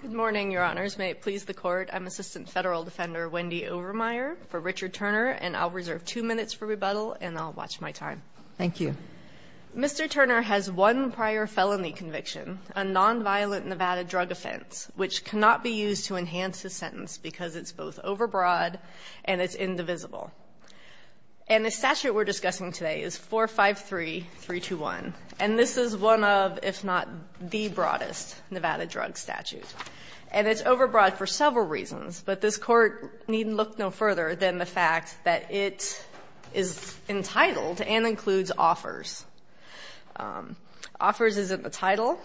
Good morning, Your Honors. May it please the Court, I'm Assistant Federal Defender Wendy Overmeyer for Richard Turner, and I'll reserve two minutes for rebuttal, and I'll watch my time. Thank you. Mr. Turner has one prior felony conviction, a nonviolent Nevada drug offense, which cannot be used to enhance his sentence because it's both overbroad and it's indivisible. And the statute we're discussing today is 453-321, and this is one of, if not the broadest, Nevada drug statutes. And it's overbroad for several reasons, but this Court needn't look no further than the fact that it is entitled and includes offers. Offers is in the title,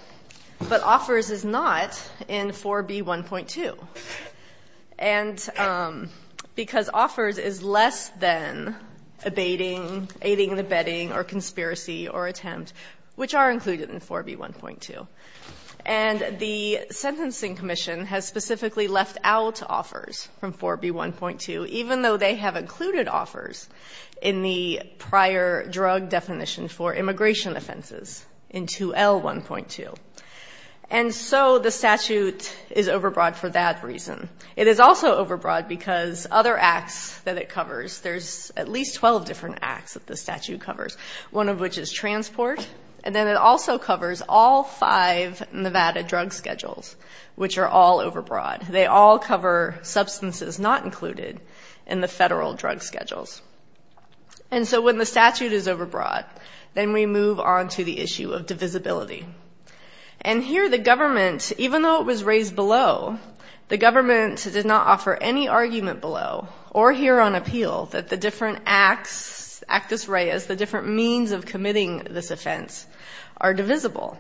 but offers is not in 4B1.2. And because offers is less than abating, aiding and abetting, or conspiracy, or attempt, which are included in 4B1.2. And the Sentencing Commission has specifically left out offers from 4B1.2, even though they have included offers in the prior drug definition for immigration offenses in 2L1.2. And so the statute is overbroad for that reason. It is also overbroad because other acts that it covers, there's at least 12 different acts that the statute covers, one of which is transport. And then it also covers all five Nevada drug schedules, which are all overbroad. They all cover substances not included in the federal drug schedules. And so when the statute is overbroad, then we move on to the issue of divisibility. And here the government, even though it was raised below, the government did not offer any argument below or here on appeal that the different acts, actus rei, as the different means of committing this offense are divisible.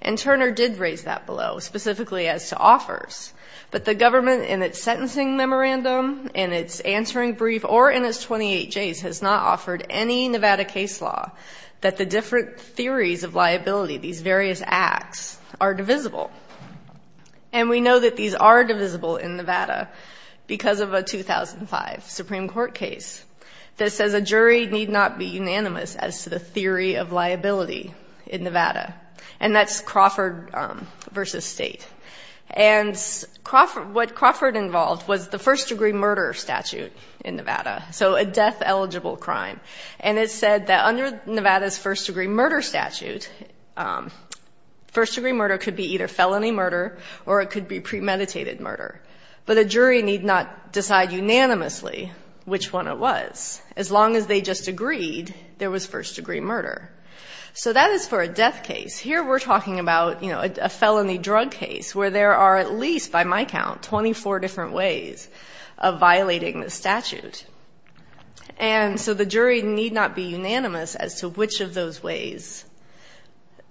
And Turner did raise that below, specifically as to offers. But the government in its sentencing memorandum, in its answering brief, or in its 28Js has not offered any Nevada case law that the different theories of liability, these various acts, are divisible. And we know that these are divisible in Nevada because of a 2005 Supreme Court case that says a jury need not be unanimous as to the theory of liability in Nevada. And that's Crawford v. State. And what Crawford involved was the first-degree murder statute in Nevada, so a death-eligible crime. And it said that under Nevada's first-degree murder statute, first-degree murder could be either felony murder or it could be premeditated murder. But a jury need not decide unanimously which one it was, as long as they just agreed there was first-degree murder. So that is for a death case. Here we're talking about, you know, a felony drug case where there are at least, by my count, 24 different ways of violating the statute. And so the jury need not be unanimous as to which of those ways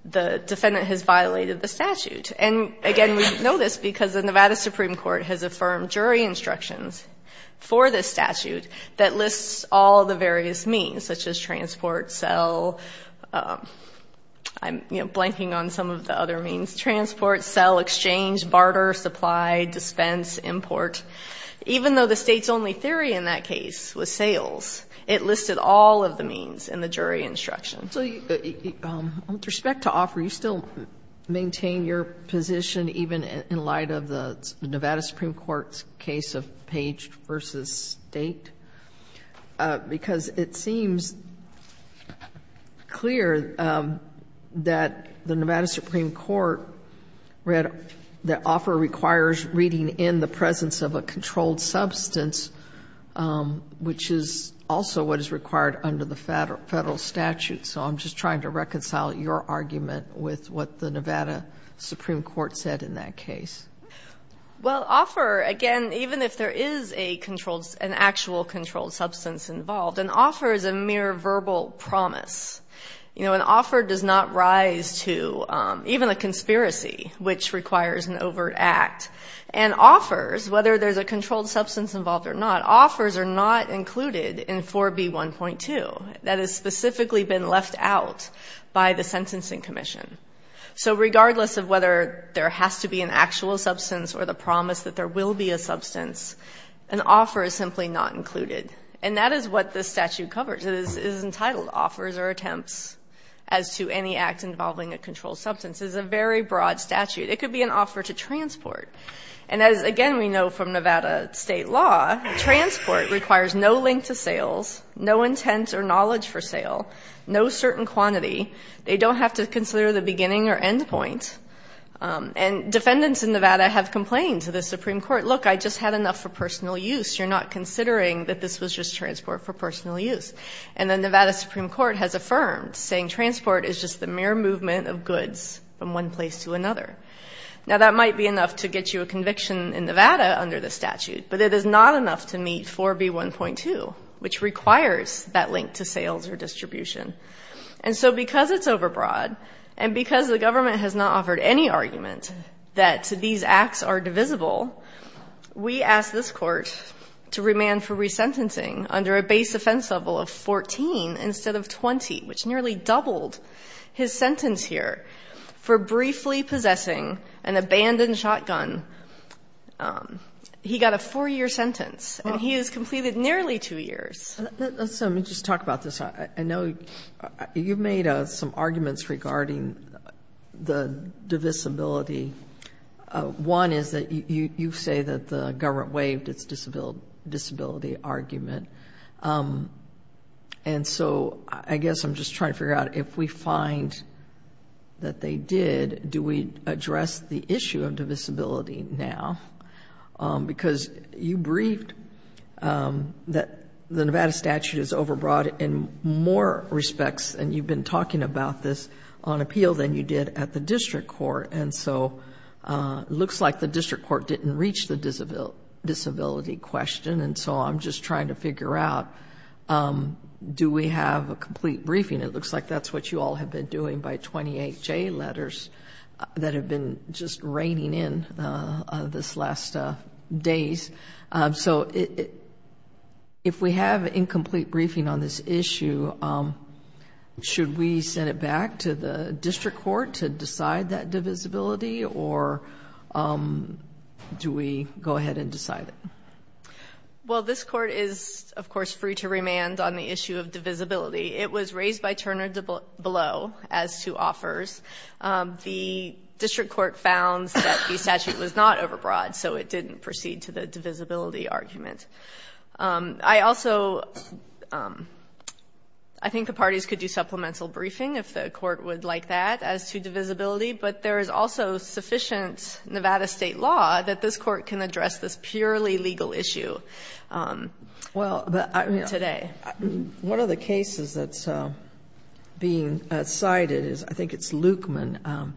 the defendant has violated the statute. And, again, we know this because the Nevada Supreme Court has affirmed jury instructions for this statute that lists all the various means, such as transport, sell. I'm, you know, blanking on some of the other means. Transport, sell, exchange, barter, supply, dispense, import. Even though the State's only theory in that case was sales, it listed all of the means in the jury instructions. So with respect to Offer, you still maintain your position even in light of the Nevada Supreme Court's case of Page v. State, because it seems clear that the Nevada Supreme Court read that Offer requires reading in the presence of a controlled substance, which is also what is required under the Federal statute. So I'm just trying to reconcile your argument with what the Nevada Supreme Court said in that case. Well, Offer, again, even if there is a controlled, an actual controlled substance involved, an Offer is a mere verbal promise. You know, an Offer does not rise to even a conspiracy, which requires an overt act. And Offers, whether there's a controlled substance involved or not, Offers are not included in 4B1.2. That has specifically been left out by the Sentencing Commission. So regardless of whether there has to be an actual substance or the promise that there will be a substance, an Offer is simply not included. And that is what this statute covers. It is entitled Offers or Attempts as to Any Act Involving a Controlled Substance. It's a very broad statute. It could be an Offer to Transport. And as, again, we know from Nevada state law, Transport requires no link to sales, no intent or knowledge for sale, no certain quantity. They don't have to consider the beginning or end point. And defendants in Nevada have complained to the Supreme Court, look, I just had enough for personal use. You're not considering that this was just Transport for personal use. And the Nevada Supreme Court has affirmed, saying Transport is just the mere movement of goods from one place to another. Now, that might be enough to get you a conviction in Nevada under the statute. But it is not enough to meet 4B1.2, which requires that link to sales or distribution. And so because it's overbroad and because the government has not offered any argument that these acts are divisible, we ask this Court to remand for resentencing under a base offense level of 14 instead of 20, which nearly doubled his sentence here for briefly possessing an abandoned shotgun. He got a 4-year sentence. And he has completed nearly 2 years. Sotomayor, let me just talk about this. I know you've made some arguments regarding the divisibility. One is that you say that the government waived its disability argument. And so I guess I'm just trying to figure out if we find that they did, do we address the issue of divisibility now? Because you briefed that the Nevada statute is overbroad in more respects, and you've been talking about this, on appeal than you did at the district court. And so it looks like the district court didn't reach the disability question. And so I'm just trying to figure out, do we have a complete briefing? It looks like that's what you all have been doing by 28 J letters that have been just raining in this last days. So if we have incomplete briefing on this issue, should we send it back to the district court to decide that divisibility? Or do we go ahead and decide it? Well, this court is, of course, free to remand on the issue of divisibility. It was raised by Turner below as to offers. The district court found that the statute was not overbroad, so it didn't proceed to the divisibility argument. I also think the parties could do supplemental briefing if the court would like that as to divisibility, but there is also sufficient Nevada State law that this court can address this purely legal issue today. One of the cases that's being cited is, I think it's Lukman.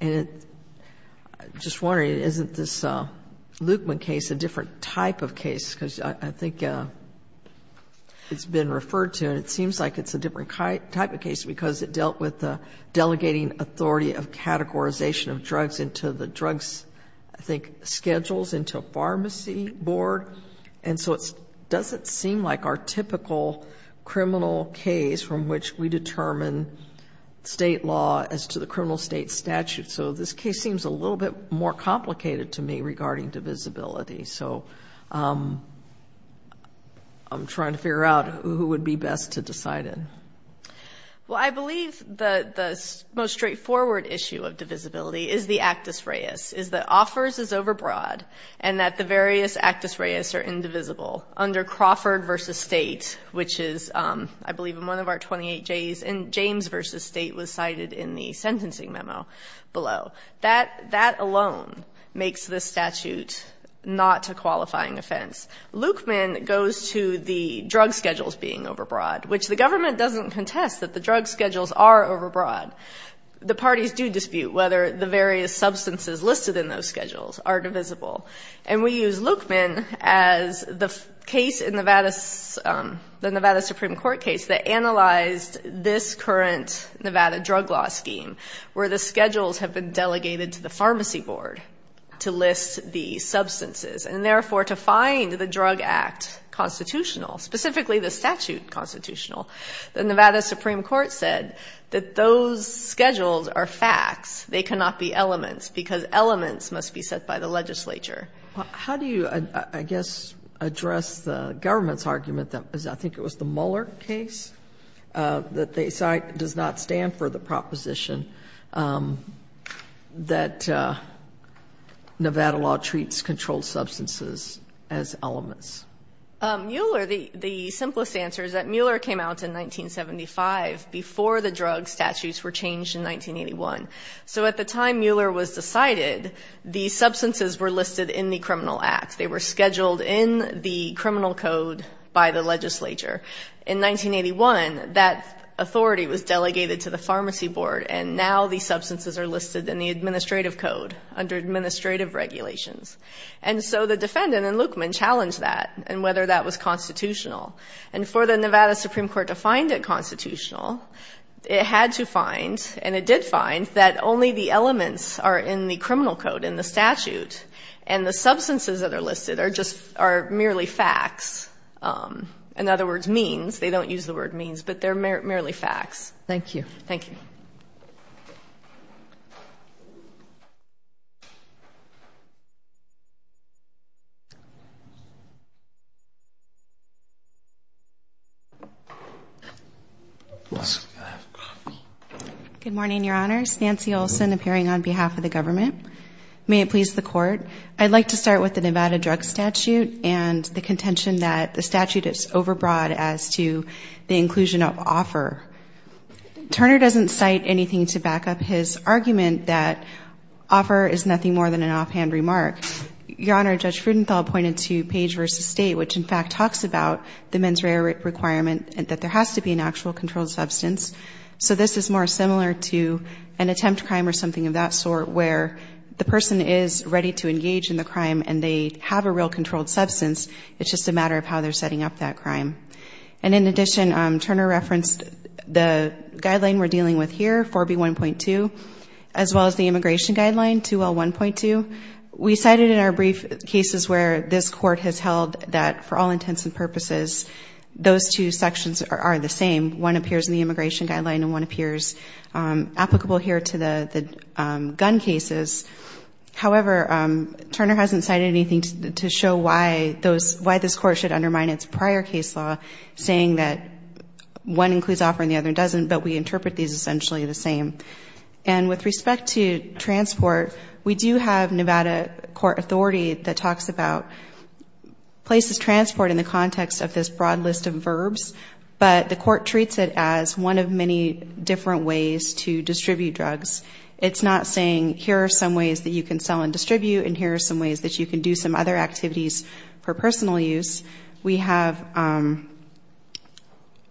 And I'm just wondering, isn't this Lukman case a different type of case? Because I think it's been referred to, and it seems like it's a different type of case because it dealt with delegating authority of categorization of drugs into the drugs, I think, schedules into a pharmacy board. And so it doesn't seem like our typical criminal case from which we determine state law as to the criminal state statute. So this case seems a little bit more complicated to me regarding divisibility. So I'm trying to figure out who would be best to decide it. Well, I believe the most straightforward issue of divisibility is the actus reus, is that offers is overbroad and that the various actus reus are indivisible under Crawford v. State, which is, I believe, in one of our 28Js. And James v. State was cited in the sentencing memo below. That alone makes this statute not a qualifying offense. Lukman goes to the drug schedules being overbroad, which the government doesn't contest that the drug schedules are overbroad. The parties do dispute whether the various substances listed in those schedules are divisible. And we use Lukman as the case in the Nevada Supreme Court case that analyzed this current Nevada drug law scheme where the schedules have been delegated to the pharmacy board to list the substances and, therefore, to find the drug act constitutional, specifically the statute constitutional. The Nevada Supreme Court said that those schedules are facts. They cannot be elements because elements must be set by the legislature. How do you, I guess, address the government's argument that I think it was the Mueller case that they cite does not stand for the proposition that Nevada law treats controlled substances as elements? Mueller, the simplest answer is that Mueller came out in 1975 before the drug statutes were changed in 1981. So at the time Mueller was decided, the substances were listed in the criminal act. They were scheduled in the criminal code by the legislature. In 1981, that authority was delegated to the pharmacy board, and now the substances are listed in the administrative code under administrative regulations. And so the defendant in Lukman challenged that and whether that was constitutional. And for the Nevada Supreme Court to find it constitutional, it had to find, and it did find, that only the elements are in the criminal code in the statute, and the substances that are listed are merely facts, in other words, means. They don't use the word means, but they're merely facts. Thank you. Thank you. Thank you. Good morning, Your Honors. Nancy Olson appearing on behalf of the government. May it please the Court, I'd like to start with the Nevada drug statute and the contention that the statute is overbroad as to the inclusion of offer. Turner doesn't cite anything to back up his argument that offer is nothing more than an offhand remark. Your Honor, Judge Rudenthal pointed to Page v. State, which in fact talks about the mens rea requirement that there has to be an actual controlled substance. So this is more similar to an attempt crime or something of that sort where the person is ready to engage in the crime and they have a real controlled substance. It's just a matter of how they're setting up that crime. And in addition, Turner referenced the guideline we're dealing with here, 4B1.2, as well as the immigration guideline, 2L1.2. We cited in our brief cases where this Court has held that, for all intents and purposes, those two sections are the same. One appears in the immigration guideline and one appears applicable here to the gun cases. However, Turner hasn't cited anything to show why this Court should undermine its prior case law, saying that one includes offer and the other doesn't, but we interpret these essentially the same. And with respect to transport, we do have Nevada court authority that talks about places of transport in the context of this broad list of verbs, but the Court treats it as one of many different ways to distribute drugs. It's not saying here are some ways that you can sell and distribute and here are some ways that you can do some other activities for personal use. We have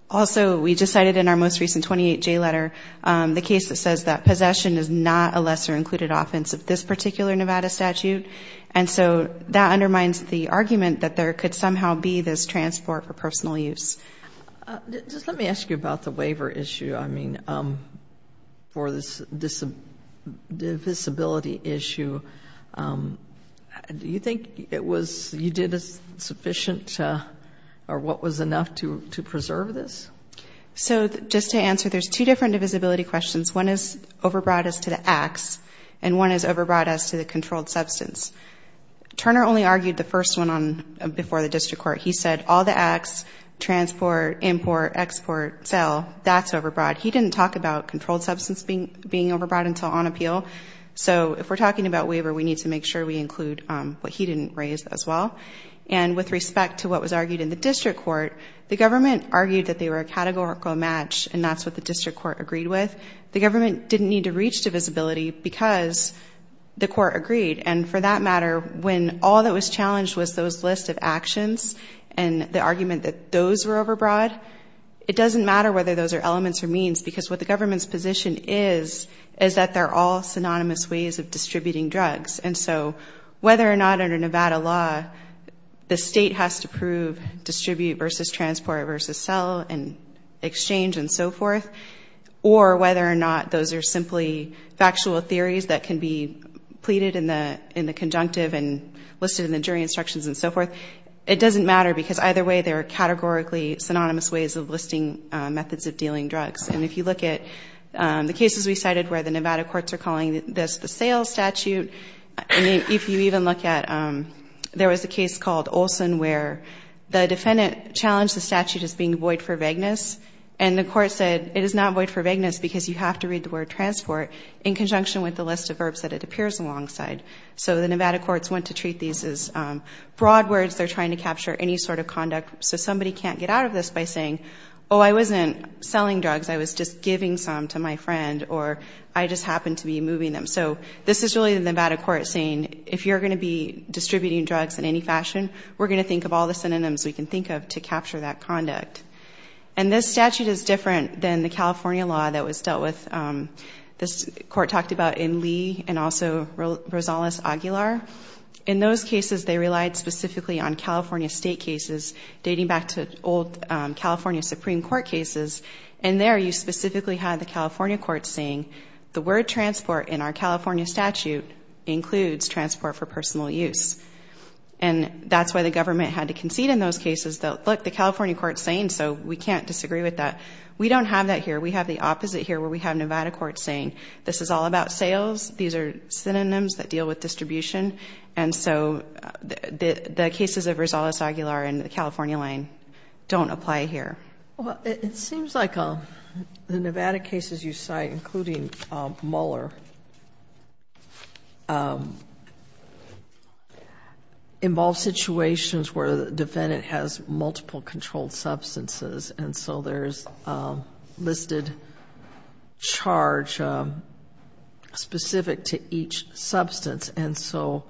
also, we just cited in our most recent 28J letter, the case that says that possession is not a lesser included offense of this particular Nevada statute, and so that undermines the argument that there could somehow be this transport for personal use. Just let me ask you about the waiver issue, I mean, for this divisibility issue. Do you think it was, you did a sufficient, or what was enough to preserve this? So just to answer, there's two different divisibility questions. One is overbroad as to the acts and one is overbroad as to the controlled substance. Turner only argued the first one before the district court. He said all the acts, transport, import, export, sell, that's overbroad. He didn't talk about controlled substance being overbroad until on appeal. So if we're talking about waiver, we need to make sure we include what he didn't raise as well. And with respect to what was argued in the district court, the government argued that they were a categorical match and that's what the district court agreed with. The government didn't need to reach divisibility because the court agreed. And for that matter, when all that was challenged was those list of actions and the argument that those were overbroad, it doesn't matter whether those are elements or means because what the government's position is is that they're all synonymous ways of distributing drugs. And so whether or not under Nevada law the state has to prove distribute versus transport versus sell and exchange and so forth, or whether or not those are simply factual theories that can be pleaded in the conjunctive and listed in the jury instructions and so forth, it doesn't matter because either way they're categorically synonymous ways of listing methods of dealing drugs. And if you look at the cases we cited where the Nevada courts are calling this the sales statute, if you even look at there was a case called Olson where the defendant challenged the statute as being void for vagueness and the court said it is not void for vagueness because you have to read the word transport in conjunction with the list of verbs that it appears alongside. So the Nevada courts went to treat these as broad words. They're trying to capture any sort of conduct. So somebody can't get out of this by saying, oh, I wasn't selling drugs. I was just giving some to my friend or I just happened to be moving them. So this is really the Nevada court saying if you're going to be distributing drugs in any fashion, we're going to think of all the synonyms we can think of to capture that conduct. And this statute is different than the California law that was dealt with. This court talked about in Lee and also Rosales-Aguilar. In those cases they relied specifically on California state cases dating back to old California Supreme Court cases, and there you specifically had the California courts saying the word transport in our California statute includes transport for personal use. And that's why the government had to concede in those cases that, look, that's what the California court is saying, so we can't disagree with that. We don't have that here. We have the opposite here where we have Nevada courts saying this is all about sales. These are synonyms that deal with distribution. And so the cases of Rosales-Aguilar and the California line don't apply here. Well, it seems like the Nevada cases you cite, including Mueller, involve situations where the defendant has multiple controlled substances, and so there's listed charge specific to each substance. And so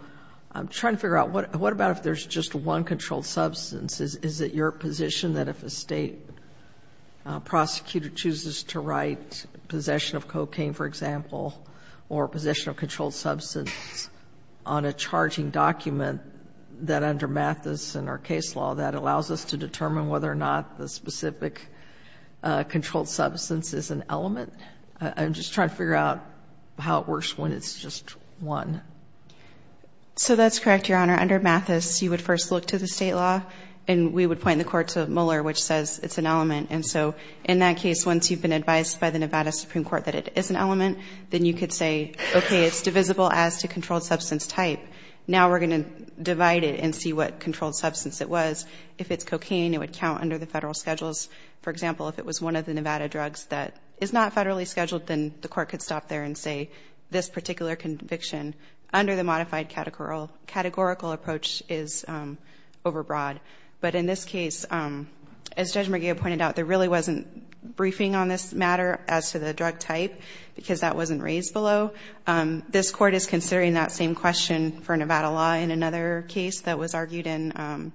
I'm trying to figure out what about if there's just one controlled substance? Is it your position that if a state prosecutor chooses to write possession of cocaine, for example, or possession of controlled substance on a charging document, that under Mathis and our case law that allows us to determine whether or not the specific controlled substance is an element? I'm just trying to figure out how it works when it's just one. So that's correct, Your Honor. Under Mathis, you would first look to the state law, and we would point the court to Mueller, which says it's an element. And so in that case, once you've been advised by the Nevada Supreme Court that it is an element, then you could say, okay, it's divisible as to controlled substance type. Now we're going to divide it and see what controlled substance it was. If it's cocaine, it would count under the federal schedules. For example, if it was one of the Nevada drugs that is not federally scheduled, then the court could stop there and say this particular conviction, under the modified categorical approach, is overbroad. But in this case, as Judge McGill pointed out, there really wasn't briefing on this matter as to the drug type because that wasn't raised below. This court is considering that same question for Nevada law in another case that was argued in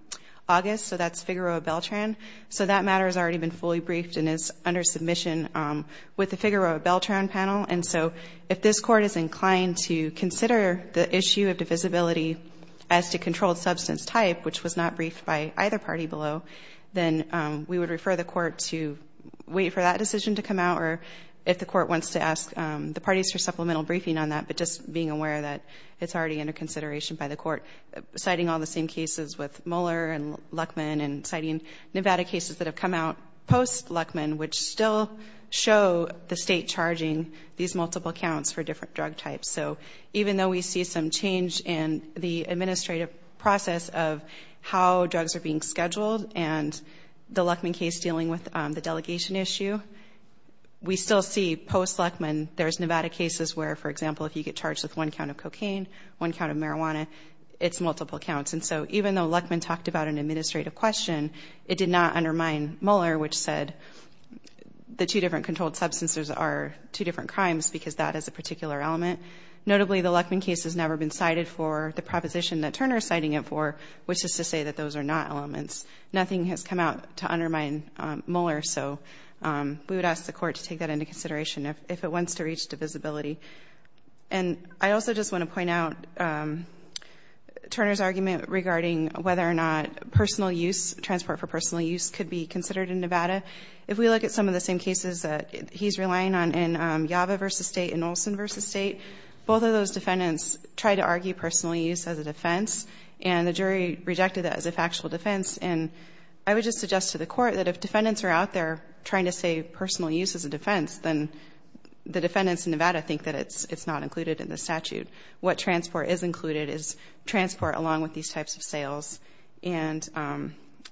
August, so that's Figueroa Beltran. So that matter has already been fully briefed and is under submission with the Figueroa Beltran panel. And so if this court is inclined to consider the issue of divisibility as to controlled substance type, which was not briefed by either party below, then we would refer the court to wait for that decision to come out, or if the court wants to ask the parties for supplemental briefing on that, but just being aware that it's already under consideration by the court. Citing all the same cases with Moeller and Luckman and citing Nevada cases that have come out post-Luckman, which still show the state charging these multiple counts for different drug types. So even though we see some change in the administrative process of how drugs are being scheduled and the Luckman case dealing with the delegation issue, we still see post-Luckman there's Nevada cases where, for example, if you get charged with one count of cocaine, one count of marijuana, it's multiple counts. And so even though Luckman talked about an administrative question, it did not undermine Moeller, which said the two different controlled substances are two different crimes because that is a particular element. Notably, the Luckman case has never been cited for the proposition that Turner is citing it for, which is to say that those are not elements. Nothing has come out to undermine Moeller, so we would ask the court to take that into consideration if it wants to reach divisibility. And I also just want to point out Turner's argument regarding whether or not personal use, transport for personal use, could be considered in Nevada. If we look at some of the same cases that he's relying on in Java v. State and Olson v. State, both of those defendants tried to argue personal use as a defense, and the jury rejected that as a factual defense. And I would just suggest to the court that if defendants are out there trying to say personal use as a defense, then the defendants in Nevada think that it's not included in the statute. What transport is included is transport along with these types of sales and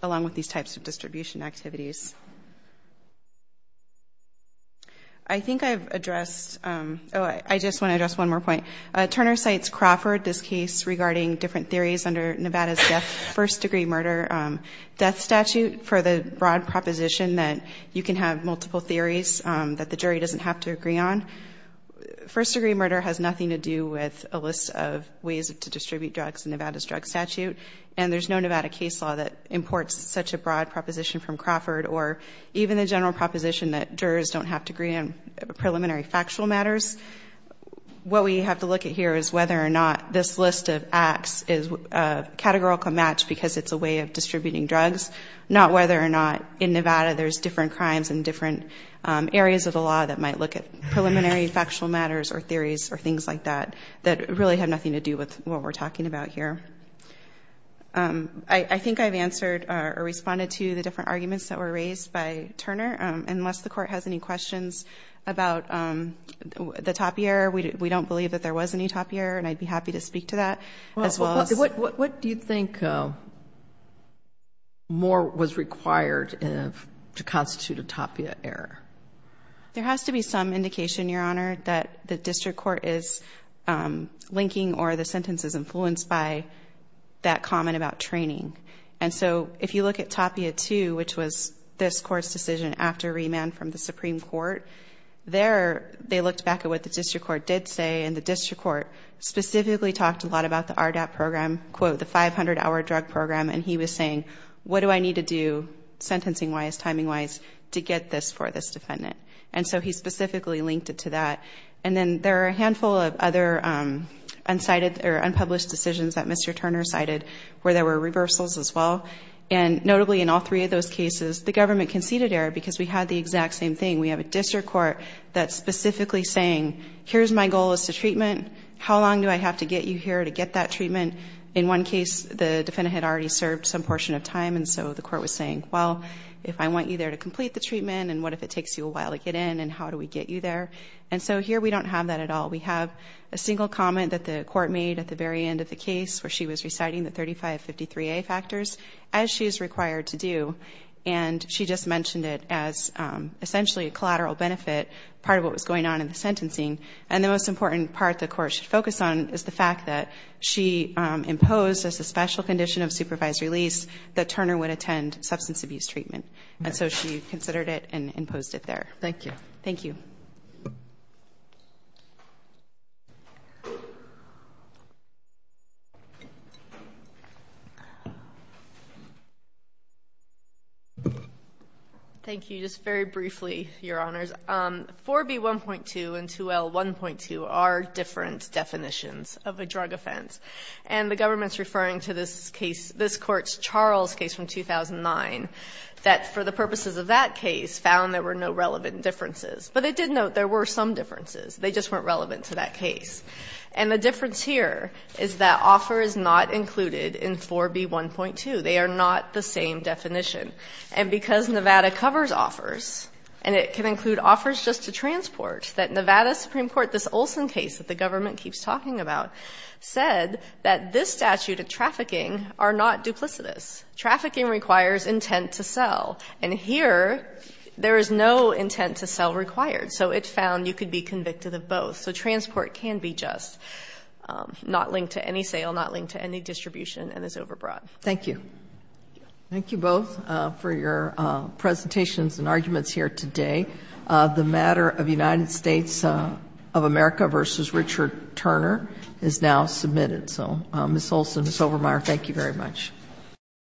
along with these types of distribution activities. I think I've addressed – oh, I just want to address one more point. Turner cites Crawford, this case regarding different theories under Nevada's first-degree murder death statute for the broad proposition that you can have multiple theories that the jury doesn't have to agree on. First-degree murder has nothing to do with a list of ways to distribute drugs in Nevada's drug statute, and there's no Nevada case law that imports such a broad proposition from Crawford or even the general proposition that jurors don't have to agree on preliminary factual matters. What we have to look at here is whether or not this list of acts is categorical match because it's a way of distributing drugs, not whether or not in Nevada there's different crimes in different areas of the law that might look at preliminary factual matters or theories or things like that that really have nothing to do with what we're talking about here. I think I've answered or responded to the different arguments that were raised by Turner. Unless the Court has any questions about the Tapia error, we don't believe that there was any Tapia error, and I'd be happy to speak to that as well as— What do you think more was required to constitute a Tapia error? There has to be some indication, Your Honor, that the district court is linking or the sentence is influenced by that comment about training. And so if you look at Tapia II, which was this Court's decision after remand from the Supreme Court, there they looked back at what the district court did say, and the district court specifically talked a lot about the RDAP program, quote, the 500-hour drug program, and he was saying, what do I need to do sentencing-wise, timing-wise, to get this for this defendant? And so he specifically linked it to that. And then there are a handful of other unpublished decisions that Mr. Turner cited where there were reversals as well, and notably in all three of those cases, the government conceded error because we had the exact same thing. We have a district court that's specifically saying, here's my goal as to treatment. How long do I have to get you here to get that treatment? In one case, the defendant had already served some portion of time, and so the court was saying, well, if I want you there to complete the treatment, and what if it takes you a while to get in, and how do we get you there? And so here we don't have that at all. We have a single comment that the court made at the very end of the case where she was reciting the 3553A factors as she is required to do, and she just mentioned it as essentially a collateral benefit, part of what was going on in the sentencing. And the most important part the court should focus on is the fact that she imposed, as a special condition of supervised release, that Turner would attend substance abuse treatment. And so she considered it and imposed it there. Thank you. Thank you. Thank you. Thank you. Just very briefly, Your Honors. 4B1.2 and 2L1.2 are different definitions of a drug offense. And the government is referring to this case, this Court's Charles case from 2009, that for the purposes of that case found there were no relevant differences. But it did note there were some differences. They just weren't relevant to that case. And the difference here is that offer is not included in 4B1.2. They are not the same definition. And because Nevada covers offers, and it can include offers just to transport, that Nevada Supreme Court, this Olson case that the government keeps talking about, said that this statute of trafficking are not duplicitous. Trafficking requires intent to sell. And here there is no intent to sell required. So it found you could be convicted of both. So transport can be just not linked to any sale, not linked to any distribution, and is overbrought. Thank you. Thank you both for your presentations and arguments here today. The matter of United States of America v. Richard Turner is now submitted. So, Ms. Olson, Ms. Overmeyer, thank you very much.